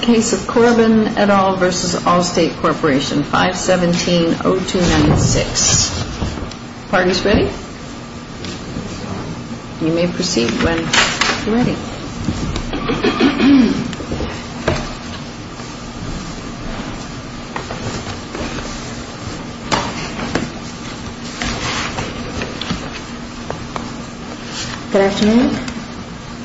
Case of Corbin et al. v. Allstate Corporation 517-0296 Parties ready? You may proceed when ready. Good afternoon.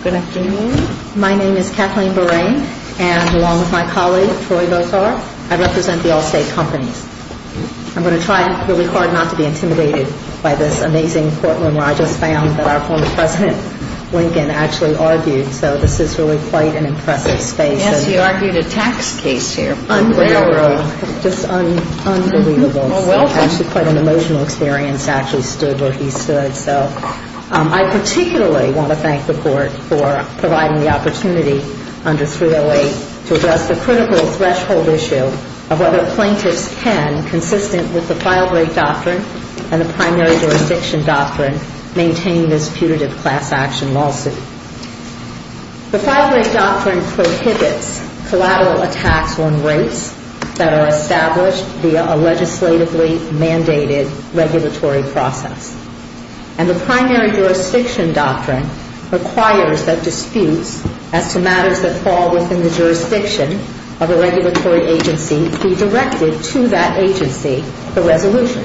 Good afternoon. My name is Kathleen Borain, and along with my colleague, Troy Votar, I represent the Allstate Companies. I'm going to try really hard not to be intimidated by this amazing courtroom where I just found that our former president, Lincoln, actually argued. So this is really quite an impressive space. Yes, he argued a tax case here. Unbelievable. Just unbelievable. Well, welcome. It's actually quite an emotional experience actually stood where he stood. So I particularly want to thank the Court for providing the opportunity under 308 to address the critical threshold issue of whether plaintiffs can, consistent with the file break doctrine and the primary jurisdiction doctrine, maintain this putative class action lawsuit. The file break doctrine prohibits collateral attacks on rates that are established via a legislatively mandated regulatory process. And the primary jurisdiction doctrine requires that disputes as to matters that fall within the jurisdiction of a regulatory agency be directed to that agency for resolution,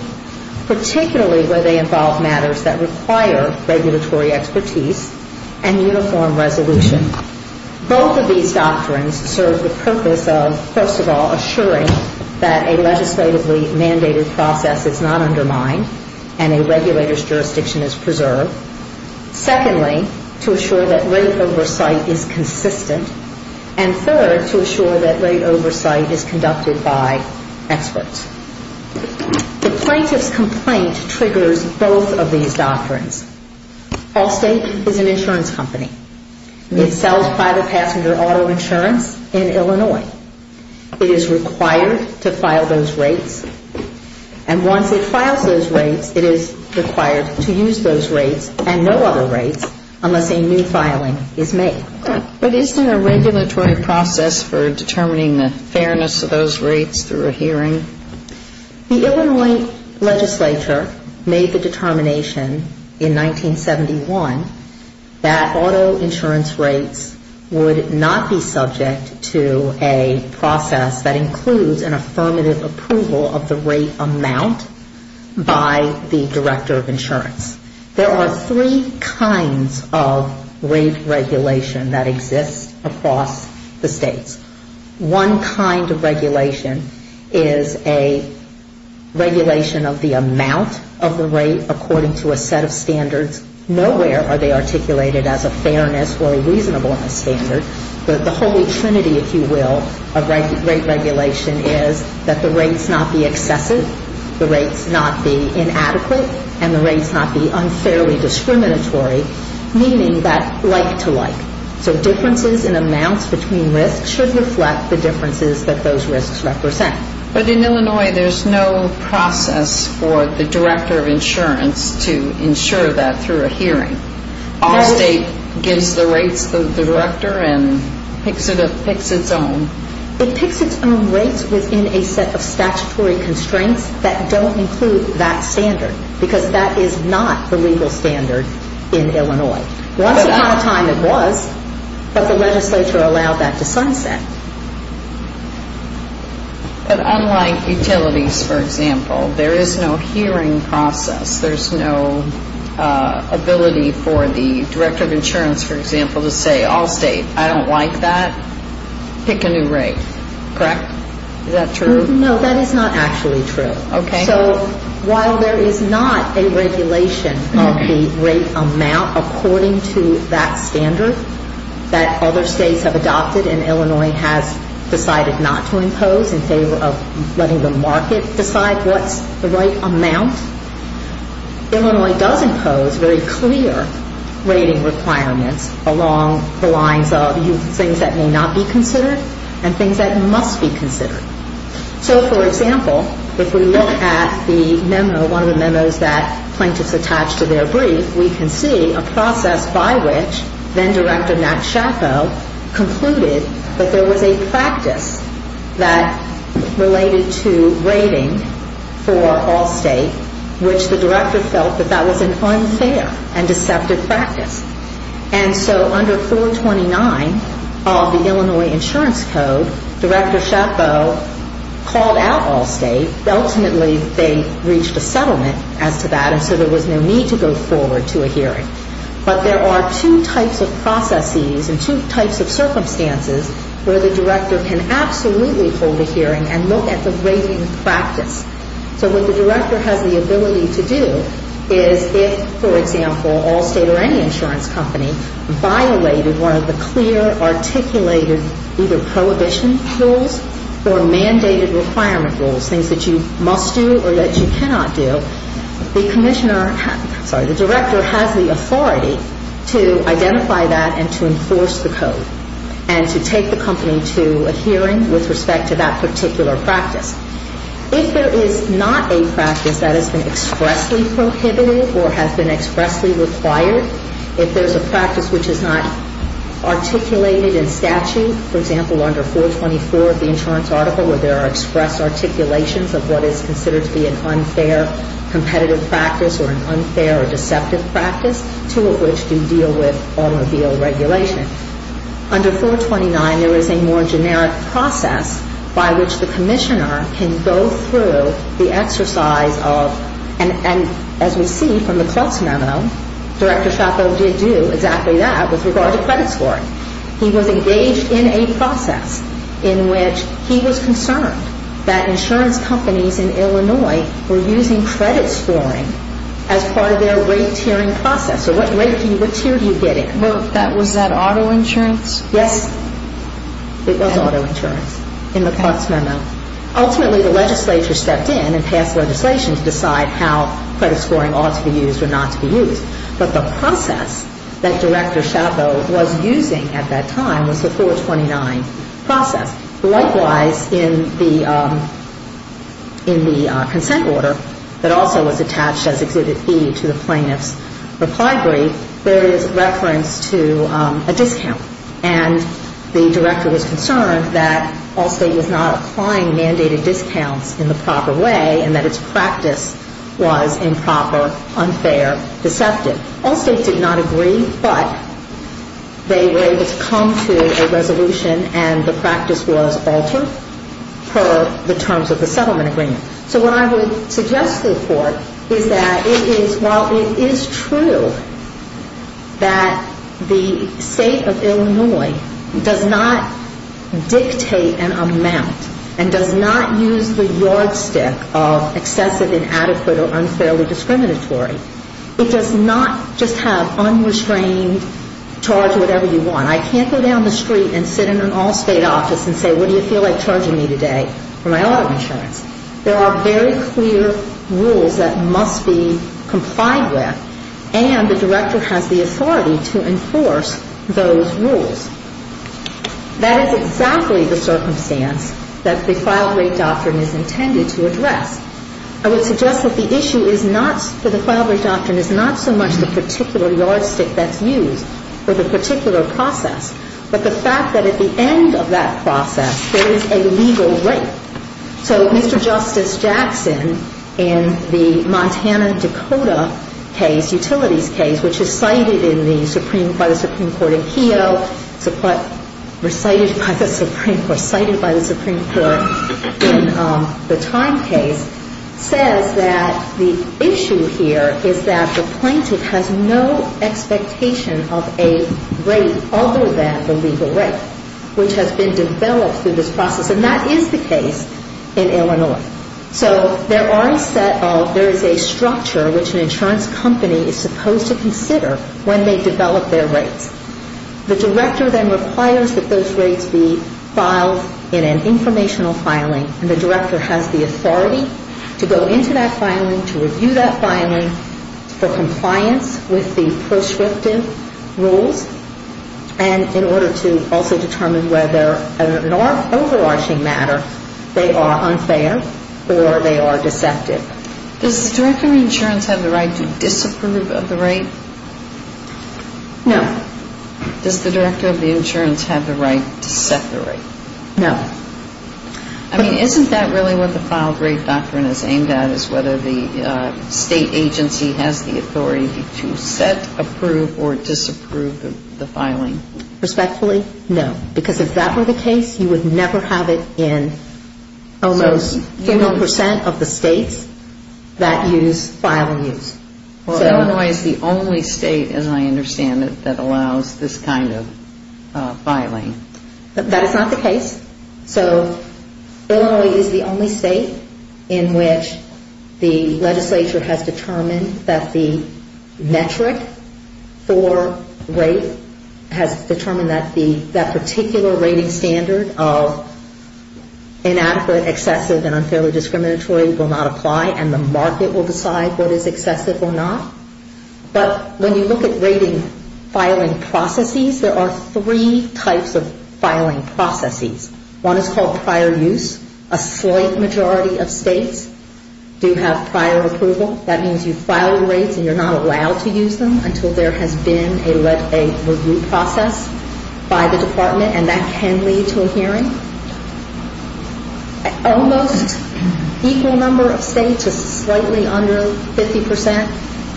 particularly where they involve matters that require regulatory expertise and uniform resolution. Both of these doctrines serve the purpose of, first of all, assuring that a legislatively mandated process is not undermined and a regulator's jurisdiction is preserved. Secondly, to assure that rate oversight is consistent. And third, to assure that rate oversight is conducted by experts. The plaintiff's complaint triggers both of these doctrines. Allstate is an insurance company. It sells private passenger auto insurance in Illinois. It is required to file those rates. And once it files those rates, it is required to use those rates and no other rates unless a new filing is made. But is there a regulatory process for determining the fairness of those rates through a hearing? The Illinois legislature made the determination in 1971 that auto insurance rates would not be subject to a process that includes an affirmative approval of the rate amount by the director of insurance. There are three kinds of rate regulation that exist across the states. One kind of regulation is a regulation of the amount of the rate according to a set of standards. Nowhere are they articulated as a fairness or a reasonableness standard. The holy trinity, if you will, of rate regulation is that the rates not be excessive, the rates not be inadequate, and the rates not be unfairly discriminatory, meaning that like to like. So differences in amounts between risks should reflect the differences that those risks represent. But in Illinois, there's no process for the director of insurance to ensure that through a hearing. Our state gives the rates to the director and picks its own. It picks its own rates within a set of statutory constraints that don't include that standard because that is not the legal standard in Illinois. Once upon a time it was, but the legislature allowed that to sunset. But unlike utilities, for example, there is no hearing process. There's no ability for the director of insurance, for example, to say all state, I don't like that. Pick a new rate. Correct? Is that true? No, that is not actually true. Okay. So while there is not a regulation of the rate amount according to that standard that other states have adopted and Illinois has decided not to impose in favor of letting the market decide what's the right amount, Illinois does impose very clear rating requirements along the lines of things that may not be considered and things that must be considered. So, for example, if we look at the memo, one of the memos that plaintiffs attach to their brief, we can see a process by which then-director Nat Schappo concluded that there was a practice that related to rating for all state, which the director felt that that was an unfair and deceptive practice. And so under 429 of the Illinois Insurance Code, Director Schappo called out all state. Ultimately, they reached a settlement as to that, and so there was no need to go forward to a hearing. But there are two types of processes and two types of circumstances where the director can absolutely hold a hearing and look at the rating practice. So what the director has the ability to do is if, for example, all state or any insurance company violated one of the clear articulated either prohibition rules or mandated requirement rules, things that you must do or that you cannot do, the commissioner, sorry, the director has the authority to identify that and to enforce the code and to take the company to a hearing with respect to that particular practice. If there is not a practice that has been expressly prohibited or has been expressly required, if there's a practice which is not articulated in statute, for example, under 424 of the insurance article where there are express articulations of what is considered to be an unfair competitive practice or an unfair or deceptive practice, two of which do deal with automobile regulation. Under 429, there is a more generic process by which the commissioner can go through the exercise of, and as we see from the Cluts Memo, Director Chappell did do exactly that with regard to credit scoring. He was engaged in a process in which he was concerned that insurance companies in Illinois were using credit scoring as part of their rate tiering process. So what rate tier do you get in? Was that auto insurance? Yes, it was auto insurance in the Cluts Memo. Ultimately, the legislature stepped in and passed legislation to decide how credit scoring ought to be used or not to be used. But the process that Director Chappell was using at that time was the 429 process. Likewise, in the consent order that also was attached as Exhibit B to the plaintiff's reply brief, there is reference to a discount. And the director was concerned that Allstate was not applying mandated discounts in the proper way and that its practice was improper, unfair, deceptive. Allstate did not agree, but they were able to come to a resolution and the practice was altered per the terms of the settlement agreement. So what I would suggest to the Court is that while it is true that the State of Illinois does not dictate an amount and does not use the yardstick of excessive, inadequate or unfairly discriminatory, it does not just have unrestrained charge whatever you want. I can't go down the street and sit in an Allstate office and say, what do you feel like charging me today for my auto insurance? There are very clear rules that must be complied with, and the director has the authority to enforce those rules. That is exactly the circumstance that the file rate doctrine is intended to address. I would suggest that the issue is not that the file rate doctrine is not so much the particular yardstick that's used for the particular process, but the fact that at the end of that process there is a legal rate. So Mr. Justice Jackson, in the Montana-Dakota case, utilities case, which is cited by the Supreme Court in Keogh, recited by the Supreme Court, cited by the Supreme Court in the time case, says that the issue here is that the plaintiff has no expectation of a rate other than the legal rate, which has been developed through this process, and that is the case in Illinois. So there are a set of, there is a structure which an insurance company is supposed to consider when they develop their rates. The director then requires that those rates be filed in an informational filing, and the director has the authority to go into that filing, to review that filing, for compliance with the proscriptive rules, and in order to also determine whether, in an overarching matter, they are unfair or they are deceptive. Does the director of insurance have the right to disapprove of the rate? No. Does the director of the insurance have the right to set the rate? No. I mean, isn't that really what the file rate doctrine is aimed at, is whether the state agency has the authority to set, approve, or disapprove the filing? Respectfully, no. Because if that were the case, you would never have it in almost 50 percent of the states that use file use. Well, Illinois is the only state, as I understand it, that allows this kind of filing. That is not the case. So Illinois is the only state in which the legislature has determined that the metric for rate has determined that that particular rating standard of inadequate, excessive, and unfairly discriminatory will not apply, and the market will decide what is excessive or not. But when you look at rating filing processes, there are three types of filing processes. One is called prior use. A slight majority of states do have prior approval. That means you file rates and you're not allowed to use them until there has been a review process by the department, and that can lead to a hearing. Almost equal number of states, just slightly under 50 percent,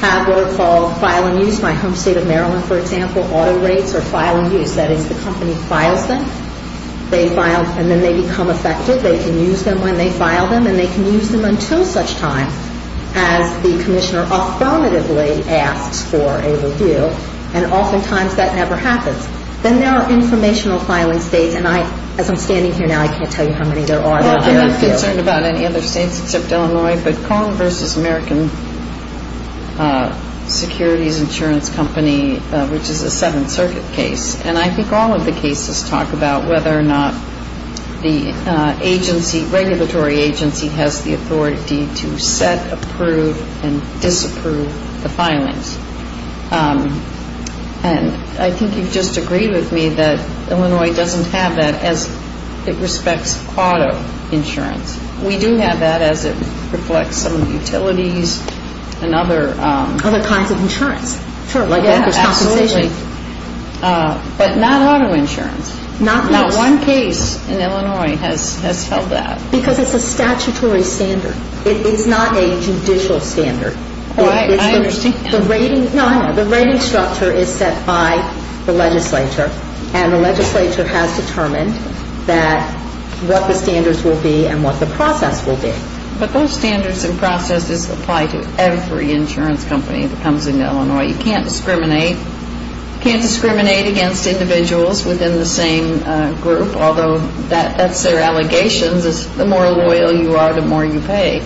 have what are called file and use. My home state of Maryland, for example, auto rates are file and use. That is, the company files them. They file and then they become effective. They can use them when they file them, and they can use them until such time as the commissioner affirmatively asks for a review, and oftentimes that never happens. Then there are informational filing states, and as I'm standing here now, I can't tell you how many there are. Well, I'm not concerned about any other states except Illinois, but Kong v. American Securities Insurance Company, which is a Seventh Circuit case, and I think all of the cases talk about whether or not the agency, regulatory agency, has the authority to set, approve, and disapprove the filings. And I think you've just agreed with me that Illinois doesn't have that as it respects auto insurance. We do have that as it reflects some utilities and other... Other kinds of insurance, sure, like bankers' compensation. Yeah, absolutely, but not auto insurance. Not one case in Illinois has held that. Because it's a statutory standard. It's not a judicial standard. Oh, I understand. The rating structure is set by the legislature, and the legislature has determined what the standards will be and what the process will be. But those standards and processes apply to every insurance company that comes into Illinois. You can't discriminate against individuals within the same group, although that's their allegations is the more loyal you are, the more you pay.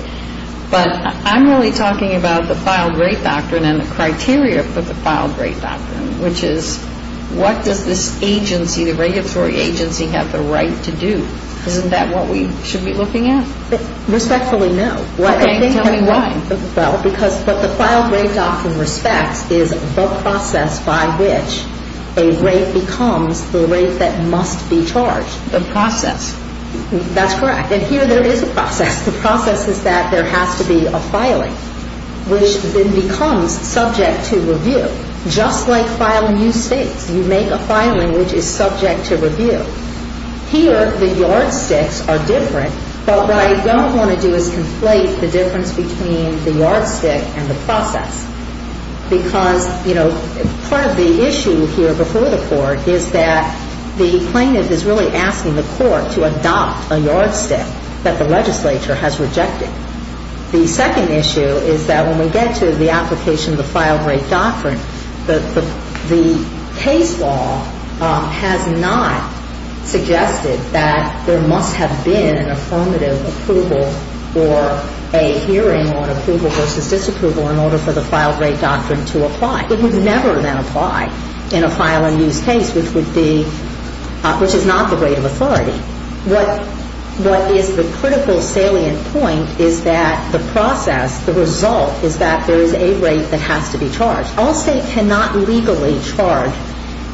But I'm really talking about the filed rate doctrine and the criteria for the filed rate doctrine, which is what does this agency, the regulatory agency, have the right to do? Isn't that what we should be looking at? Respectfully, no. Okay, tell me why. Well, because what the filed rate doctrine respects is the process by which a rate becomes the rate that must be charged. The process. That's correct. And here there is a process. The process is that there has to be a filing, which then becomes subject to review, just like filing new states. You make a filing which is subject to review. Here the yardsticks are different, but what I don't want to do is conflate the difference between the yardstick and the process. Because, you know, part of the issue here before the Court is that the plaintiff is really asking the Court to adopt a yardstick that the legislature has rejected. The second issue is that when we get to the application of the filed rate doctrine, the case law has not suggested that there must have been an affirmative approval or a hearing on approval versus disapproval in order for the filed rate doctrine to apply. It would never then apply in a file-and-use case, which is not the rate of authority. What is the critical salient point is that the process, the result, is that there is a rate that has to be charged. All states cannot legally charge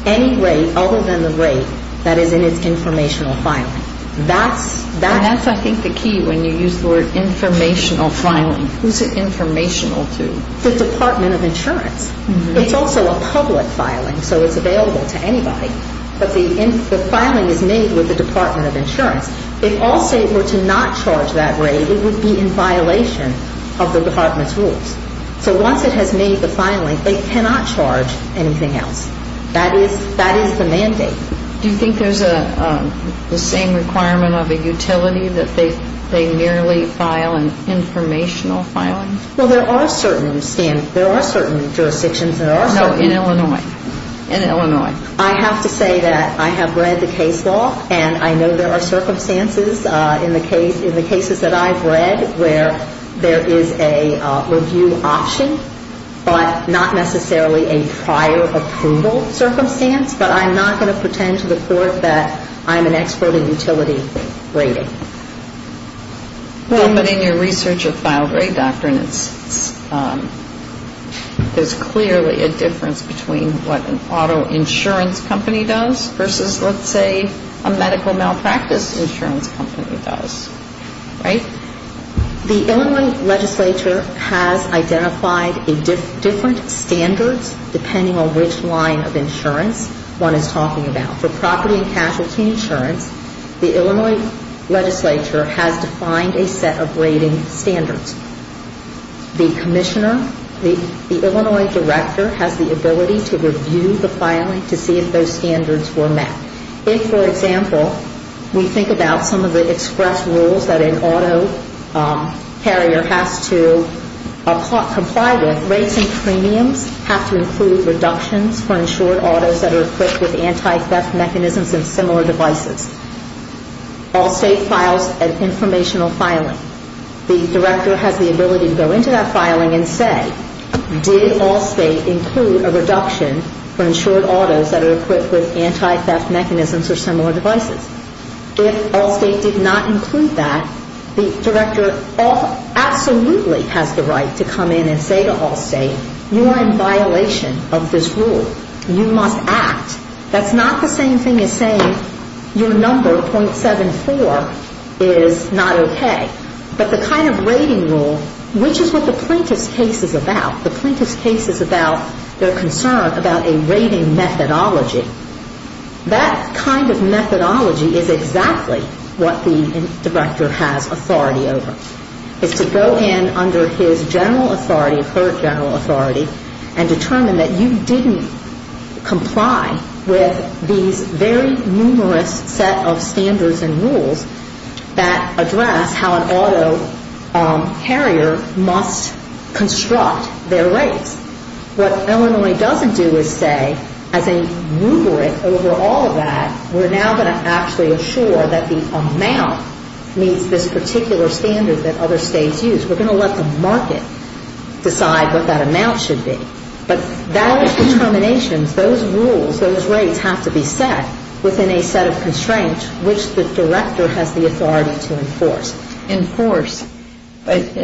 any rate other than the rate that is in its informational filing. And that's, I think, the key when you use the word informational filing. Who's it informational to? The Department of Insurance. It's also a public filing, so it's available to anybody. But the filing is made with the Department of Insurance. If all states were to not charge that rate, it would be in violation of the Department's rules. So once it has made the filing, they cannot charge anything else. That is the mandate. Do you think there's the same requirement of a utility that they merely file an informational filing? Well, there are certain jurisdictions. No, in Illinois. In Illinois. I have to say that I have read the case law, and I know there are circumstances in the cases that I've read where there is a review option, but not necessarily a prior approval circumstance. But I'm not going to pretend to the Court that I'm an expert in utility rating. Well, but in your research of filed rate doctrines, there's clearly a difference between what an auto insurance company does versus, let's say, a medical malpractice insurance company does. Right? The Illinois legislature has identified different standards, depending on which line of insurance one is talking about. For property and casualty insurance, the Illinois legislature has defined a set of rating standards. The commissioner, the Illinois director, has the ability to review the filing to see if those standards were met. If, for example, we think about some of the express rules that an auto carrier has to comply with, have to include reductions for insured autos that are equipped with anti-theft mechanisms and similar devices. Allstate files an informational filing. The director has the ability to go into that filing and say, did Allstate include a reduction for insured autos that are equipped with anti-theft mechanisms or similar devices? If Allstate did not include that, the director absolutely has the right to come in and say to Allstate, you are in violation of this rule. You must act. That's not the same thing as saying your number, .74, is not okay. But the kind of rating rule, which is what the plaintiff's case is about, the plaintiff's case is about their concern about a rating methodology. That kind of methodology is exactly what the director has authority over, is to go in under his general authority, her general authority, and determine that you didn't comply with these very numerous set of standards and rules that address how an auto carrier must construct their rates. What Illinois doesn't do is say, as a rubric over all of that, we're now going to actually assure that the amount meets this particular standard that other states use. We're going to let the market decide what that amount should be. But that determination, those rules, those rates have to be set within a set of constraints, which the director has the authority to enforce. But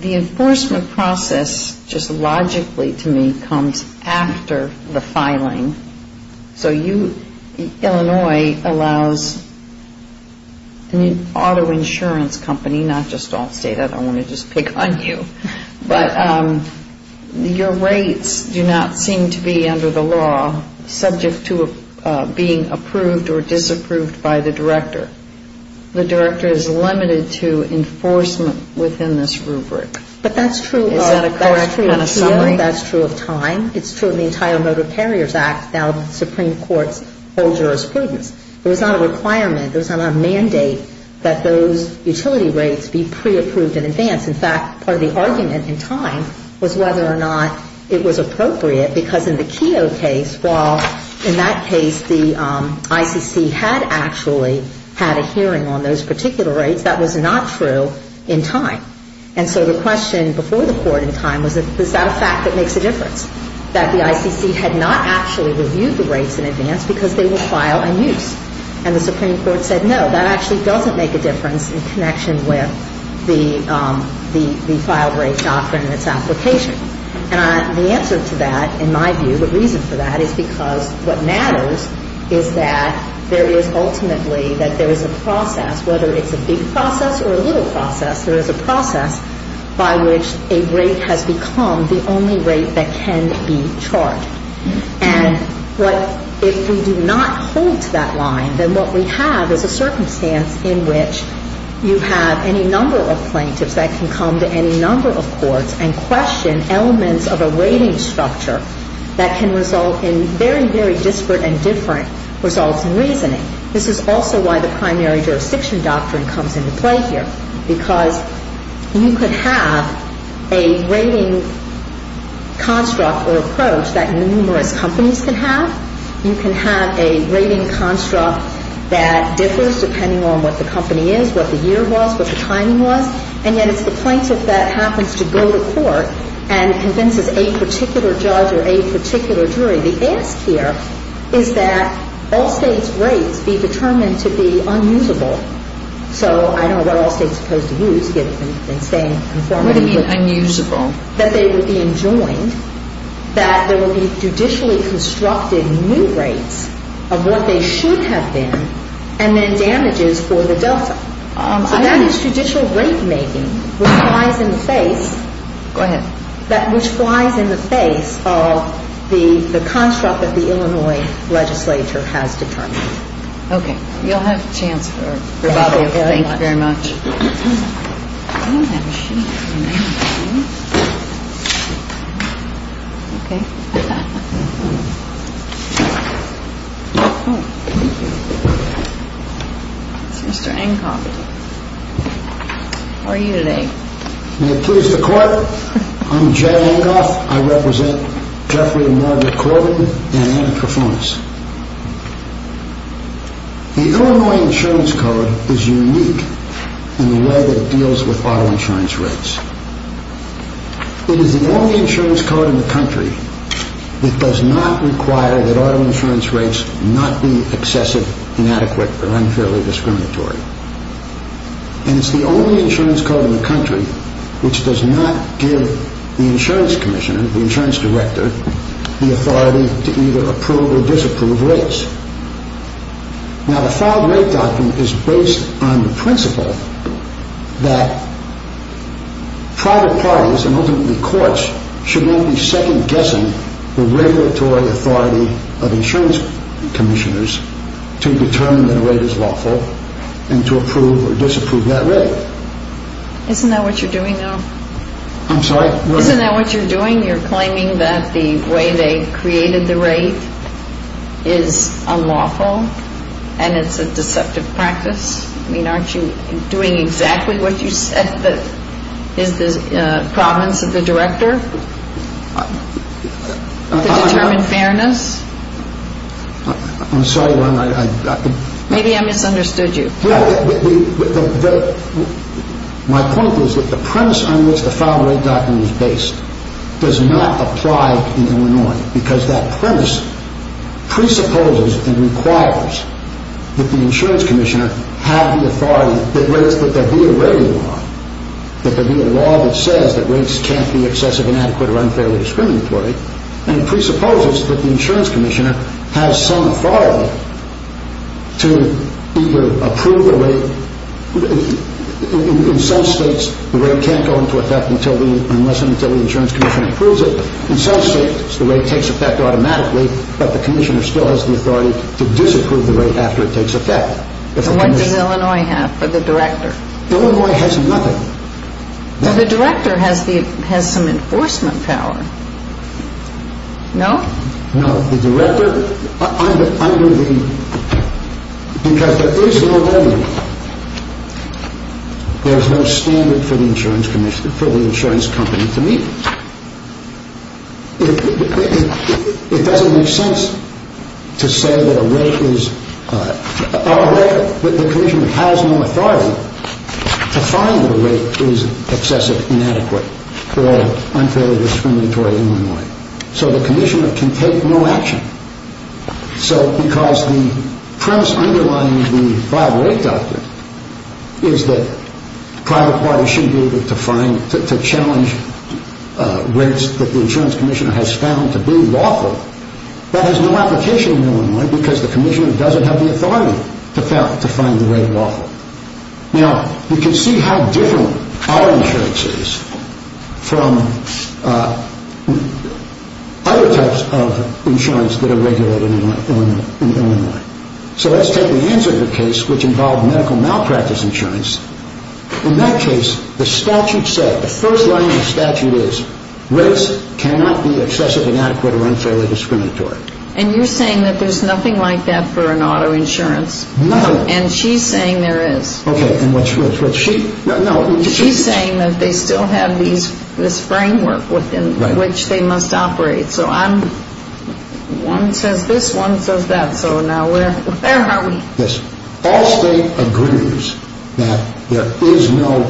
the enforcement process just logically, to me, comes after the filing. So Illinois allows an auto insurance company, not just Allstate, I don't want to just pick on you, but your rates do not seem to be under the law subject to being approved or disapproved by the director. The director is limited to enforcement within this rubric. Is that a correct kind of summary? That's true of time. It's true of the entire Motor Carriers Act, now the Supreme Court's whole jurisprudence. There was not a requirement, there was not a mandate that those utility rates be pre-approved in advance. In fact, part of the argument in time was whether or not it was appropriate, because in the Keogh case, while in that case the ICC had actually had a hearing on those particular rates, that was not true in time. And so the question before the court in time was, is that a fact that makes a difference, that the ICC had not actually reviewed the rates in advance because they will file and use. And the Supreme Court said, no, that actually doesn't make a difference in connection with the file rate doctrine and its application. And the answer to that, in my view, the reason for that is because what matters is that there is ultimately, that there is a process, whether it's a big process or a little process, there is a process by which a rate has become the only rate that can be charged. And if we do not hold to that line, then what we have is a circumstance in which you have any number of plaintiffs that can come to any number of courts and question elements of a rating structure that can result in very, very disparate and different results in reasoning. This is also why the primary jurisdiction doctrine comes into play here, because you could have a rating construct or approach that numerous companies can have. You can have a rating construct that differs depending on what the company is, what the year was, what the timing was, and yet it's the plaintiff that happens to go to court and convinces a particular judge or a particular jury. The ask here is that all states' rates be determined to be unusable. So I don't know what all states are supposed to use, given that you've been saying informatively. What do you mean unusable? That they would be enjoined, that there would be judicially constructed new rates of what they should have been, and then damages for the delta. So that is judicial rate making which flies in the face of the construct that the Illinois legislature has determined. Okay. You'll have a chance for it. Thank you very much. Thank you very much. I don't have a sheet. Okay. Mr. Enghoff. How are you today? May it please the Court? I'm Jay Enghoff. I represent Jeffrey and Margaret Corbin and Anna Krafonis. The Illinois Insurance Code is unique in the way that it deals with auto insurance rates. It is the only insurance code in the country that does not require that auto insurance rates not be excessive, inadequate, or unfairly discriminatory. And it's the only insurance code in the country which does not give the insurance commissioner, the insurance director, the authority to either approve or disapprove rates. Now, the filed rate document is based on the principle that private parties and ultimately courts should not be second-guessing the regulatory authority of insurance commissioners to determine that a rate is lawful and to approve or disapprove that rate. Isn't that what you're doing now? I'm sorry? Isn't that what you're doing? You're claiming that the way they created the rate is unlawful and it's a deceptive practice? I mean, aren't you doing exactly what you said is the province of the director? To determine fairness? I'm sorry. Maybe I misunderstood you. My point is that the premise on which the filed rate document is based does not apply in Illinois because that premise presupposes and requires that the insurance commissioner have the authority that there be a rating law. That there be a law that says that rates can't be excessive, inadequate, or unfairly discriminatory and presupposes that the insurance commissioner has some authority to either approve the rate. In some states, the rate can't go into effect unless and until the insurance commissioner approves it. In some states, the rate takes effect automatically, but the commissioner still has the authority to disapprove the rate after it takes effect. What does Illinois have for the director? Illinois has nothing. The director has some enforcement power. No? No. The director, because there is no revenue, there's no standard for the insurance company to meet. It doesn't make sense to say that a rate is, the commissioner has no authority to find that a rate is excessive, inadequate, or unfairly discriminatory in Illinois. So the commissioner can take no action. So because the premise underlying the filed rate document is that private parties should be able to find, to challenge rates that the insurance commissioner has found to be lawful, that has no application in Illinois because the commissioner doesn't have the authority to find the rate lawful. Now, you can see how different our insurance is from other types of insurance that are regulated in Illinois. So let's take the answer to the case which involved medical malpractice insurance. In that case, the statute said, the first line of the statute is, rates cannot be excessive, inadequate, or unfairly discriminatory. And you're saying that there's nothing like that for an auto insurance? No. And she's saying there is. Okay, and what's she, no. She's saying that they still have this framework within which they must operate. So I'm, one says this, one says that, so now where are we? Yes. All state agrees that there is no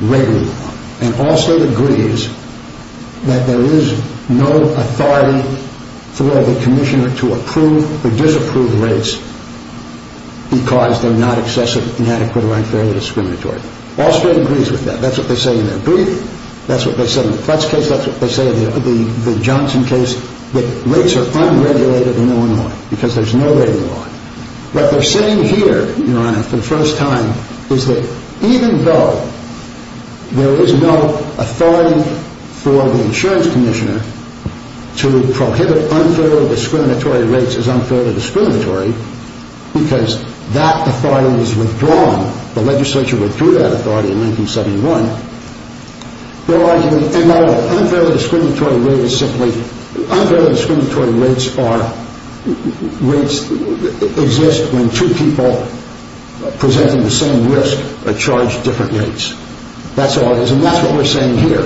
regular law. And all state agrees that there is no authority for the commissioner to approve or disapprove rates because they're not excessive, inadequate, or unfairly discriminatory. All state agrees with that. That's what they say in their brief. That's what they said in the Klutz case. That's what they say in the Johnson case, that rates are unregulated in Illinois because there's no regular law. What they're saying here, Your Honor, for the first time, is that even though there is no authority for the insurance commissioner to prohibit unfairly discriminatory rates as unfairly discriminatory, because that authority was withdrawn, the legislature withdrew that authority in 1971, their argument in Illinois, unfairly discriminatory rate is simply, unfairly discriminatory rates are, rates exist when two people presenting the same risk are charged different rates. That's all it is, and that's what we're saying here.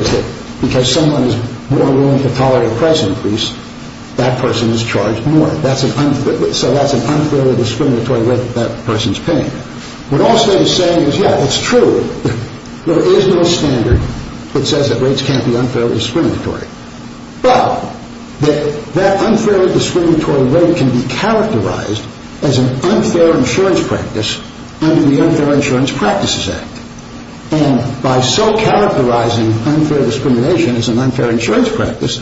Because someone is more willing to tolerate a price increase, that person is charged more. That's an, so that's an unfairly discriminatory rate that that person's paying. What all state is saying is, yes, it's true. There is no standard that says that rates can't be unfairly discriminatory. But, that unfairly discriminatory rate can be characterized as an unfair insurance practice under the Unfair Insurance Practices Act. And by so characterizing unfair discrimination as an unfair insurance practice,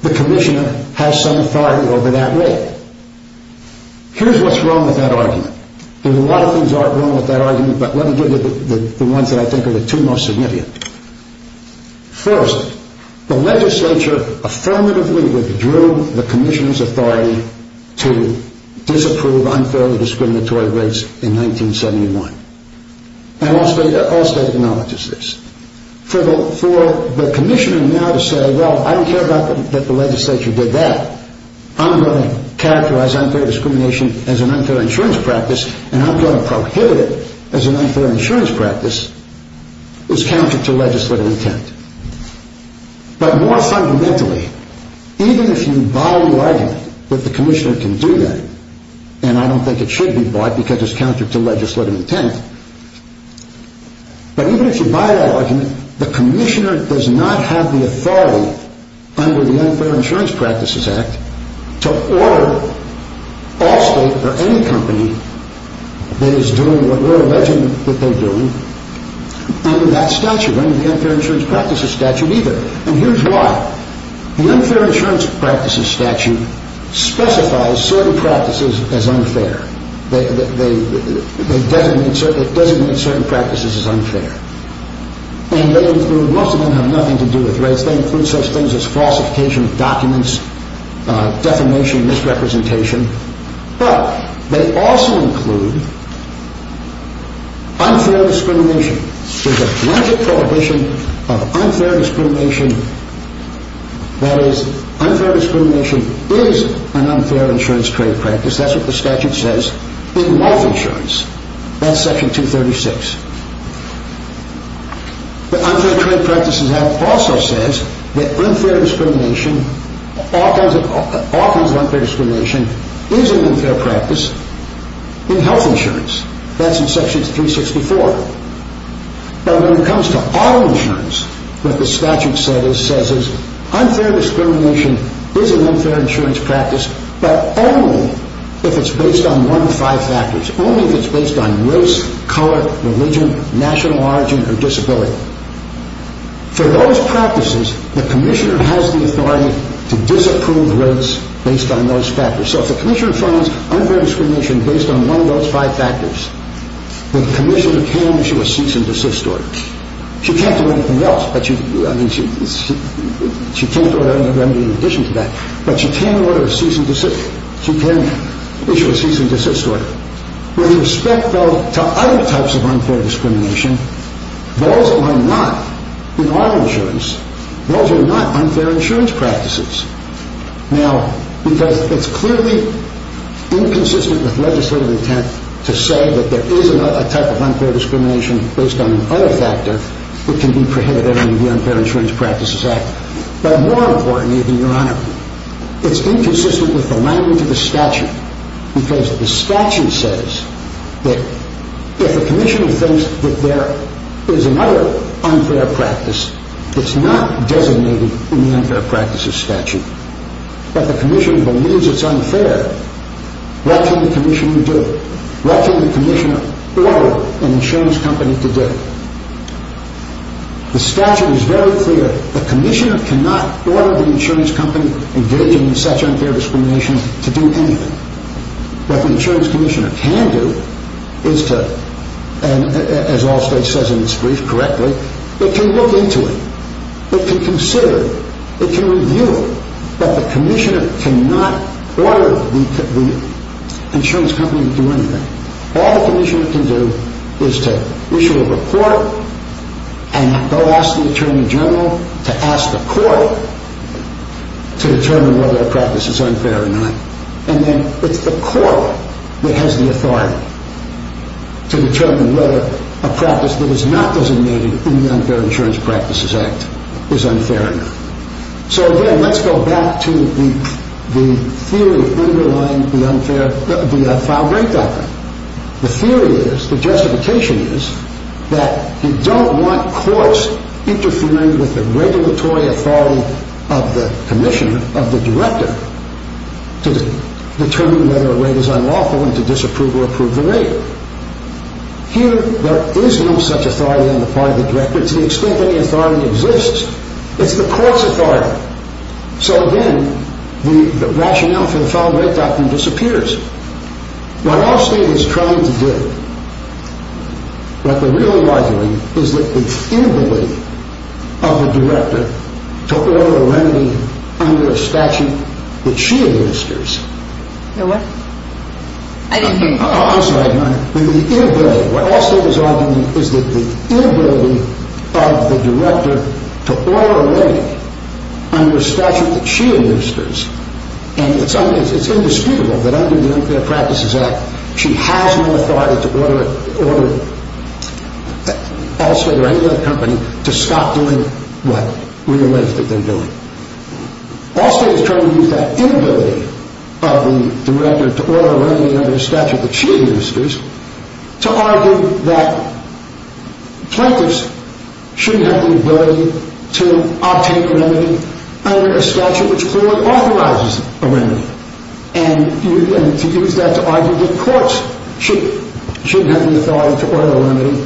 the commissioner has some authority over that rate. Here's what's wrong with that argument. There are a lot of things wrong with that argument, but let me give you the ones that I think are the two most significant. First, the legislature affirmatively withdrew the commissioner's authority to disapprove unfairly discriminatory rates in 1971. And all state acknowledges this. For the commissioner now to say, well, I don't care that the legislature did that, I'm going to characterize unfair discrimination as an unfair insurance practice, and I'm going to prohibit it as an unfair insurance practice, is counter to legislative intent. But more fundamentally, even if you buy the argument that the commissioner can do that, and I don't think it should be bought because it's counter to legislative intent, but even if you buy that argument, the commissioner does not have the authority under the Unfair Insurance Practices Act to order all state or any company that is doing what we're alleging that they're doing under that statute, under the Unfair Insurance Practices Statute either. And here's why. The Unfair Insurance Practices Statute specifies certain practices as unfair. It designates certain practices as unfair. And most of them have nothing to do with rates. They include such things as falsification of documents, defamation, misrepresentation. But they also include unfair discrimination. There's a blanket prohibition of unfair discrimination. That is, unfair discrimination is an unfair insurance trade practice. That's what the statute says in life insurance. That's Section 236. The Unfair Trade Practices Act also says that unfair discrimination, often unfair discrimination is an unfair practice in health insurance. That's in Section 364. But when it comes to auto insurance, what the statute says is unfair discrimination is an unfair insurance practice, but only if it's based on one of five factors. Only if it's based on race, color, religion, national origin, or disability. For those practices, the commissioner has the authority to disapprove rates based on those factors. So if the commissioner finds unfair discrimination based on one of those five factors, the commissioner can issue a cease and desist order. She can't do anything else. I mean, she can't do anything in addition to that. But she can order a cease and desist. She can issue a cease and desist order. With respect, though, to other types of unfair discrimination, those are not, in auto insurance, those are not unfair insurance practices. Now, because it's clearly inconsistent with legislative intent to say that there is a type of unfair discrimination based on another factor, it can be prohibited under the Unfair Insurance Practices Act. But more importantly, Your Honor, it's inconsistent with the language of the statute because the statute says that if the commissioner thinks that there is another unfair practice, it's not designated in the Unfair Practices Statute. If the commissioner believes it's unfair, what can the commissioner do? What can the commissioner order an insurance company to do? The statute is very clear. The commissioner cannot order the insurance company engaging in such unfair discrimination to do anything. What the insurance commissioner can do is to, as Allstate says in its brief correctly, it can look into it. It can consider it. It can review it. But the commissioner cannot order the insurance company to do anything. All the commissioner can do is to issue a report and go ask the attorney general to ask the court to determine whether a practice is unfair or not. And then it's the court that has the authority to determine whether a practice that is not designated in the Unfair Insurance Practices Act is unfair or not. So, again, let's go back to the theory underlying the file break doctrine. The theory is, the justification is, that you don't want courts interfering with the regulatory authority of the commissioner, of the director, to determine whether a rate is unlawful and to disapprove or approve the rate. Here, there is no such authority on the part of the director. To the extent that the authority exists, it's the court's authority. So, again, the rationale for the file break doctrine disappears. What Allstate is trying to do, but the real rivalry, is that the inability of the director to order a remedy under a statute that she administers. The what? I didn't hear you. Oh, I'm sorry. What Allstate is arguing is that the inability of the director to order a remedy under a statute that she administers, and it's indisputable that under the Unfair Practices Act she has no authority to order Allstate or any other company to stop doing what we believe that they're doing. Allstate is trying to use that inability of the director to order a remedy under a statute that she administers to argue that plaintiffs shouldn't have the ability to obtain a remedy under a statute which clearly authorizes a remedy. And to use that to argue that courts shouldn't have the authority to order a remedy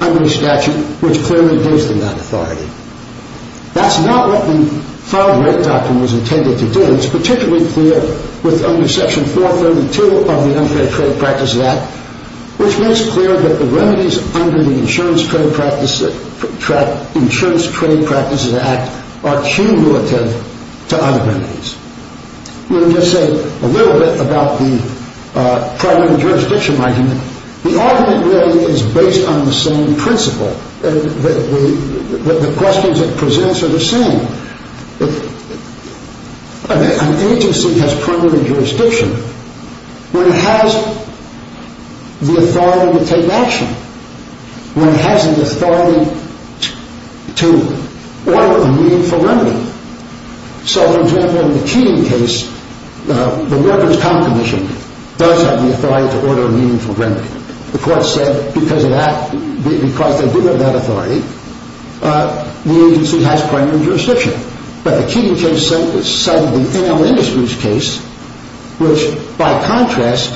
under a statute which clearly gives them that authority. That's not what the file break doctrine was intended to do. It's particularly clear with under Section 432 of the Unfair Trade Practices Act, which makes clear that the remedies under the Insurance Trade Practices Act are cumulative to other remedies. Let me just say a little bit about the primary jurisdiction argument. The argument really is based on the same principle. The questions it presents are the same. An agency has primary jurisdiction when it has the authority to take action, when it has the authority to order a meaningful remedy. So, for example, in the Keating case, the Workers' Comp Commission does have the authority to order a meaningful remedy. The court said because they do have that authority, the agency has primary jurisdiction. But the Keating case cited the NL Industries case, which by contrast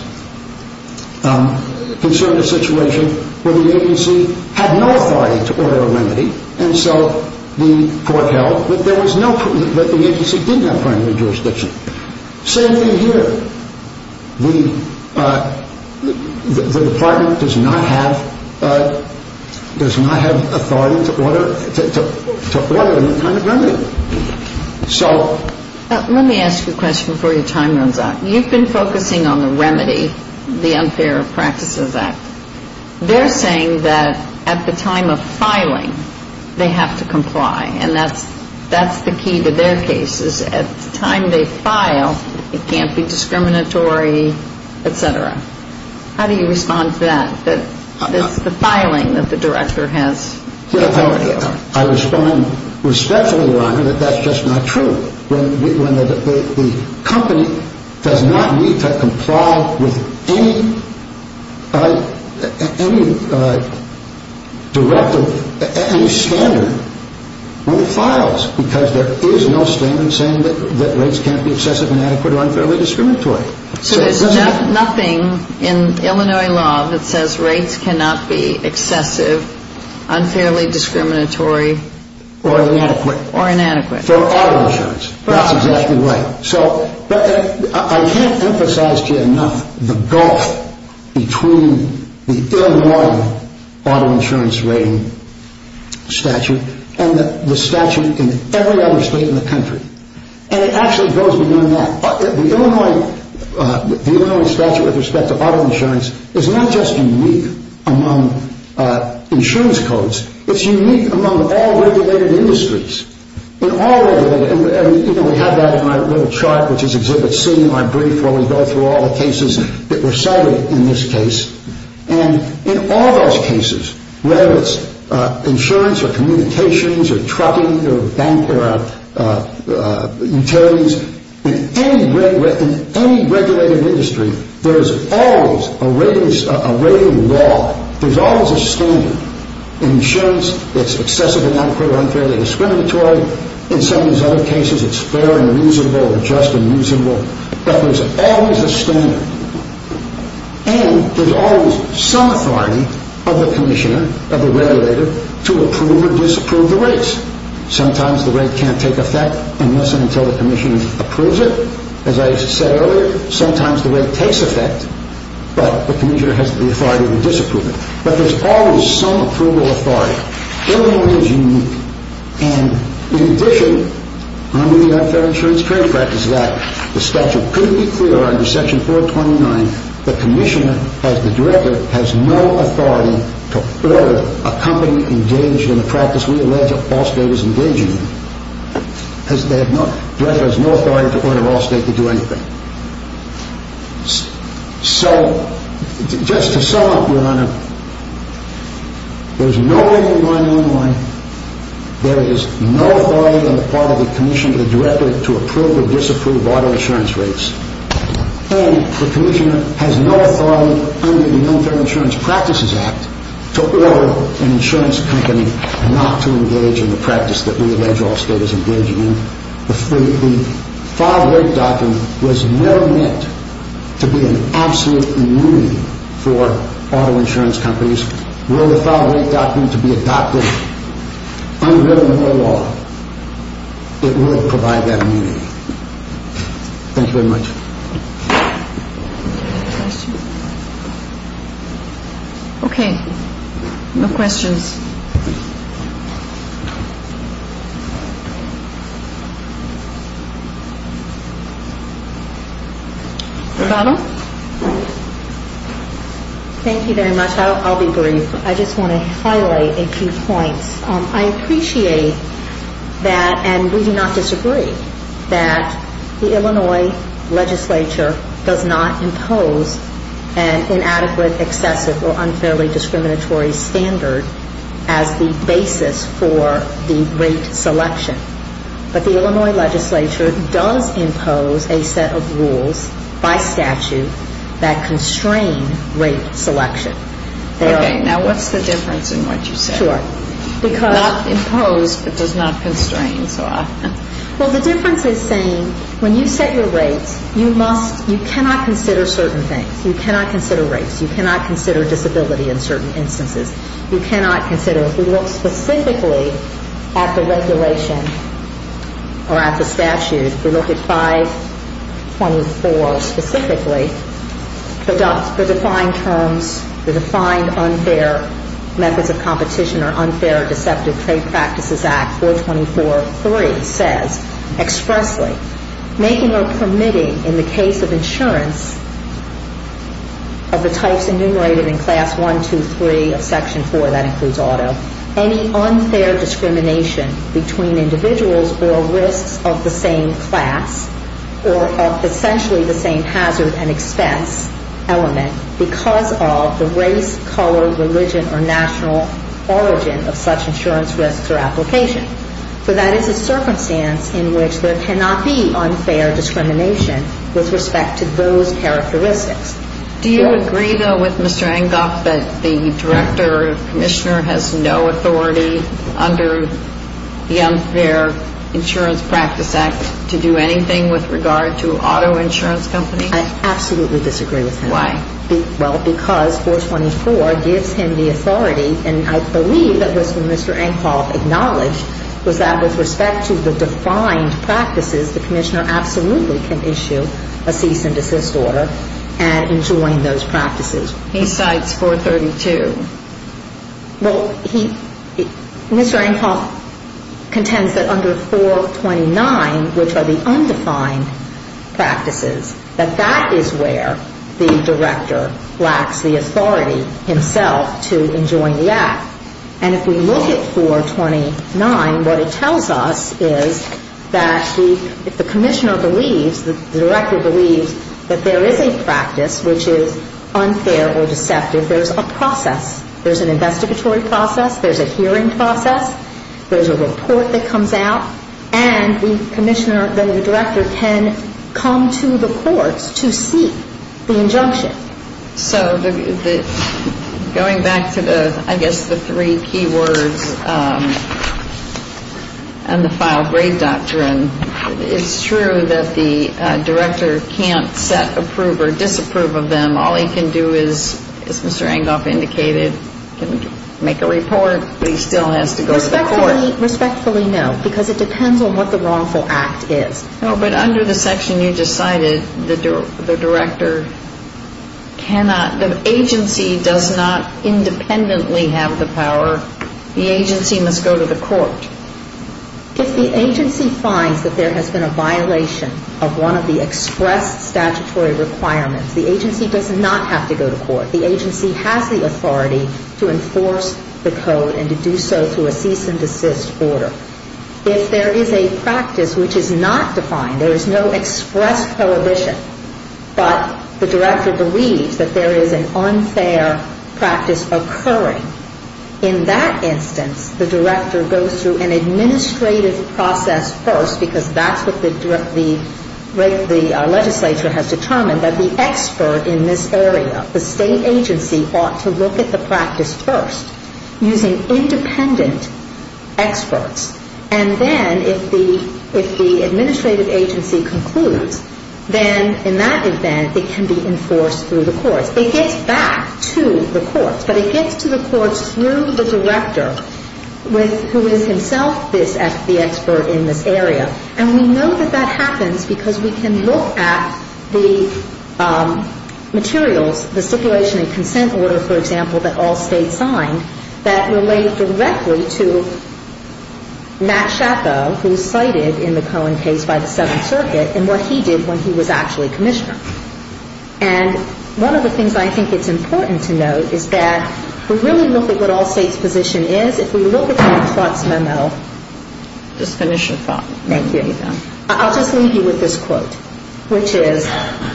concerned a situation where the agency had no authority to order a remedy, and so the court held that the agency did have primary jurisdiction. Same thing here. The Department does not have authority to order any kind of remedy. Let me ask you a question before your time runs out. You've been focusing on the remedy, the Unfair Trade Practices Act. They're saying that at the time of filing, they have to comply, and that's the key to their cases. At the time they file, it can't be discriminatory, et cetera. How do you respond to that, that it's the filing that the director has authority over? I respond respectfully, Your Honor, that that's just not true. The company does not need to comply with any standard when it files, because there is no statement saying that rates can't be excessive, inadequate, or unfairly discriminatory. So there's nothing in Illinois law that says rates cannot be excessive, unfairly discriminatory, or inadequate. For auto insurance, that's exactly right. But I can't emphasize to you enough the gulf between the Illinois auto insurance rating statute and the statute in every other state in the country, and it actually goes beyond that. The Illinois statute with respect to auto insurance is not just unique among insurance codes. It's unique among all regulated industries. In all regulated, and we have that in our little chart, which is Exhibit C in my brief, where we go through all the cases that were cited in this case, and in all those cases, whether it's insurance or communications or trucking or utilities, in any regulated industry, there is always a rating law, there's always a standard. In insurance, it's excessive, inadequate, or unfairly discriminatory. In some of these other cases, it's fair and reasonable or just and reasonable. But there's always a standard, and there's always some authority of the commissioner, of the regulator, to approve or disapprove the rates. Sometimes the rate can't take effect unless and until the commissioner approves it. As I said earlier, sometimes the rate takes effect, but the commissioner has the authority to disapprove it. But there's always some approval authority. Illinois is unique. And in addition, under the Unfair Insurance Trade Practice Act, the statute couldn't be clearer under Section 429, the commissioner, as the director, has no authority to order a company engaged in the practice we allege that Allstate is engaging in. The director has no authority to order Allstate to do anything. So, just to sum up, Your Honor, there's no rating law in Illinois, there is no authority on the part of the commissioner, the director, to approve or disapprove auto insurance rates, and the commissioner has no authority under the Unfair Insurance Practices Act to order an insurance company not to engage in the practice that we allege Allstate is engaging in. The filed rate document was never meant to be an absolute immunity for auto insurance companies. Were the filed rate document to be adopted under Illinois law, it would provide that immunity. Thank you very much. Okay. No questions. Rebecca? Thank you very much. I'll be brief. I just want to highlight a few points. I appreciate that, and we do not disagree, that the Illinois legislature does not impose an inadequate, excessive, or unfairly discriminatory standard as the basis for the rate selection. But the Illinois legislature does impose a set of rules by statute that constrain rate selection. Okay. Now, what's the difference in what you said? Sure. Not impose, but does not constrain. Well, the difference is saying when you set your rates, you cannot consider certain things. You cannot consider rates. You cannot consider disability in certain instances. You cannot consider, if we look specifically at the regulation or at the statute, if we look at 524 specifically, the defined terms, the defined unfair methods of competition or unfair or deceptive trade practices act, 424.3, says expressly, making or permitting in the case of insurance of the types enumerated in Class 1, 2, 3 of Section 4, that includes auto, any unfair discrimination between individuals or risks of the same class or of essentially the same hazard and expense element because of the race, color, religion, or national origin of such insurance risks or application. For that is a circumstance in which there cannot be unfair discrimination with respect to those characteristics. Do you agree, though, with Mr. Enghoff that the Director, Commissioner, has no authority under the Unfair Insurance Practice Act to do anything with regard to auto insurance companies? I absolutely disagree with him. Why? Well, because 424 gives him the authority, and I believe that was when Mr. Enghoff acknowledged, was that with respect to the defined practices, the Commissioner absolutely can issue a cease and desist order and enjoin those practices. He cites 432. Well, he, Mr. Enghoff contends that under 429, which are the undefined practices, that that is where the Director lacks the authority himself to enjoin the act. And if we look at 429, what it tells us is that if the Commissioner believes, the Director believes that there is a practice which is unfair or deceptive, there's a process. There's an investigatory process. There's a hearing process. There's a report that comes out. And the Commissioner, the Director can come to the courts to seek the injunction. So going back to the, I guess, the three key words and the file grade doctrine, it's true that the Director can't set approve or disapprove of them. All he can do is, as Mr. Enghoff indicated, make a report, but he still has to go to the court. Respectfully, no, because it depends on what the wrongful act is. No, but under the section you just cited, the Director cannot, the agency does not independently have the power. The agency must go to the court. If the agency finds that there has been a violation of one of the expressed statutory requirements, the agency does not have to go to court. The agency has the authority to enforce the code and to do so through a cease and desist order. If there is a practice which is not defined, there is no express prohibition, but the Director believes that there is an unfair practice occurring, in that instance the Director goes through an administrative process first, because that's what the legislature has determined, that the expert in this area, the state agency, ought to look at the practice first using independent experts. And then if the administrative agency concludes, then in that event it can be enforced through the courts. It gets back to the courts, but it gets to the courts through the Director, who is himself the expert in this area. And we know that that happens because we can look at the materials, the stipulation and consent order, for example, that all states signed, that relate directly to Matt Schappo, who is cited in the Cohen case by the Seventh Circuit, and what he did when he was actually Commissioner. And one of the things I think it's important to note is that to really look at what all states' position is, if we look at Matt Trott's memo, I'll just leave you with this quote, which is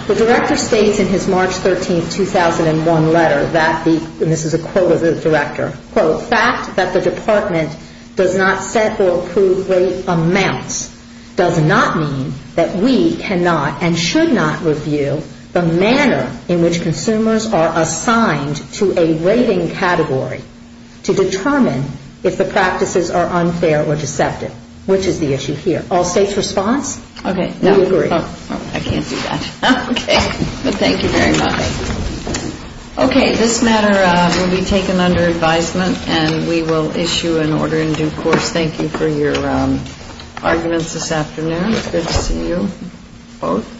the Director states in his March 13, 2001, letter that the, and this is a quote of the Director, quote, fact that the Department does not set or approve rate amounts does not mean that we cannot and should not review the manner in which consumers are assigned to a rating category to determine if the practices are unfair or deceptive, which is the issue here. All states' response? Okay. We agree. I can't do that. Okay. But thank you very much. Okay. This matter will be taken under advisement, and we will issue an order in due course. Thank you for your arguments this afternoon. It's good to see you both.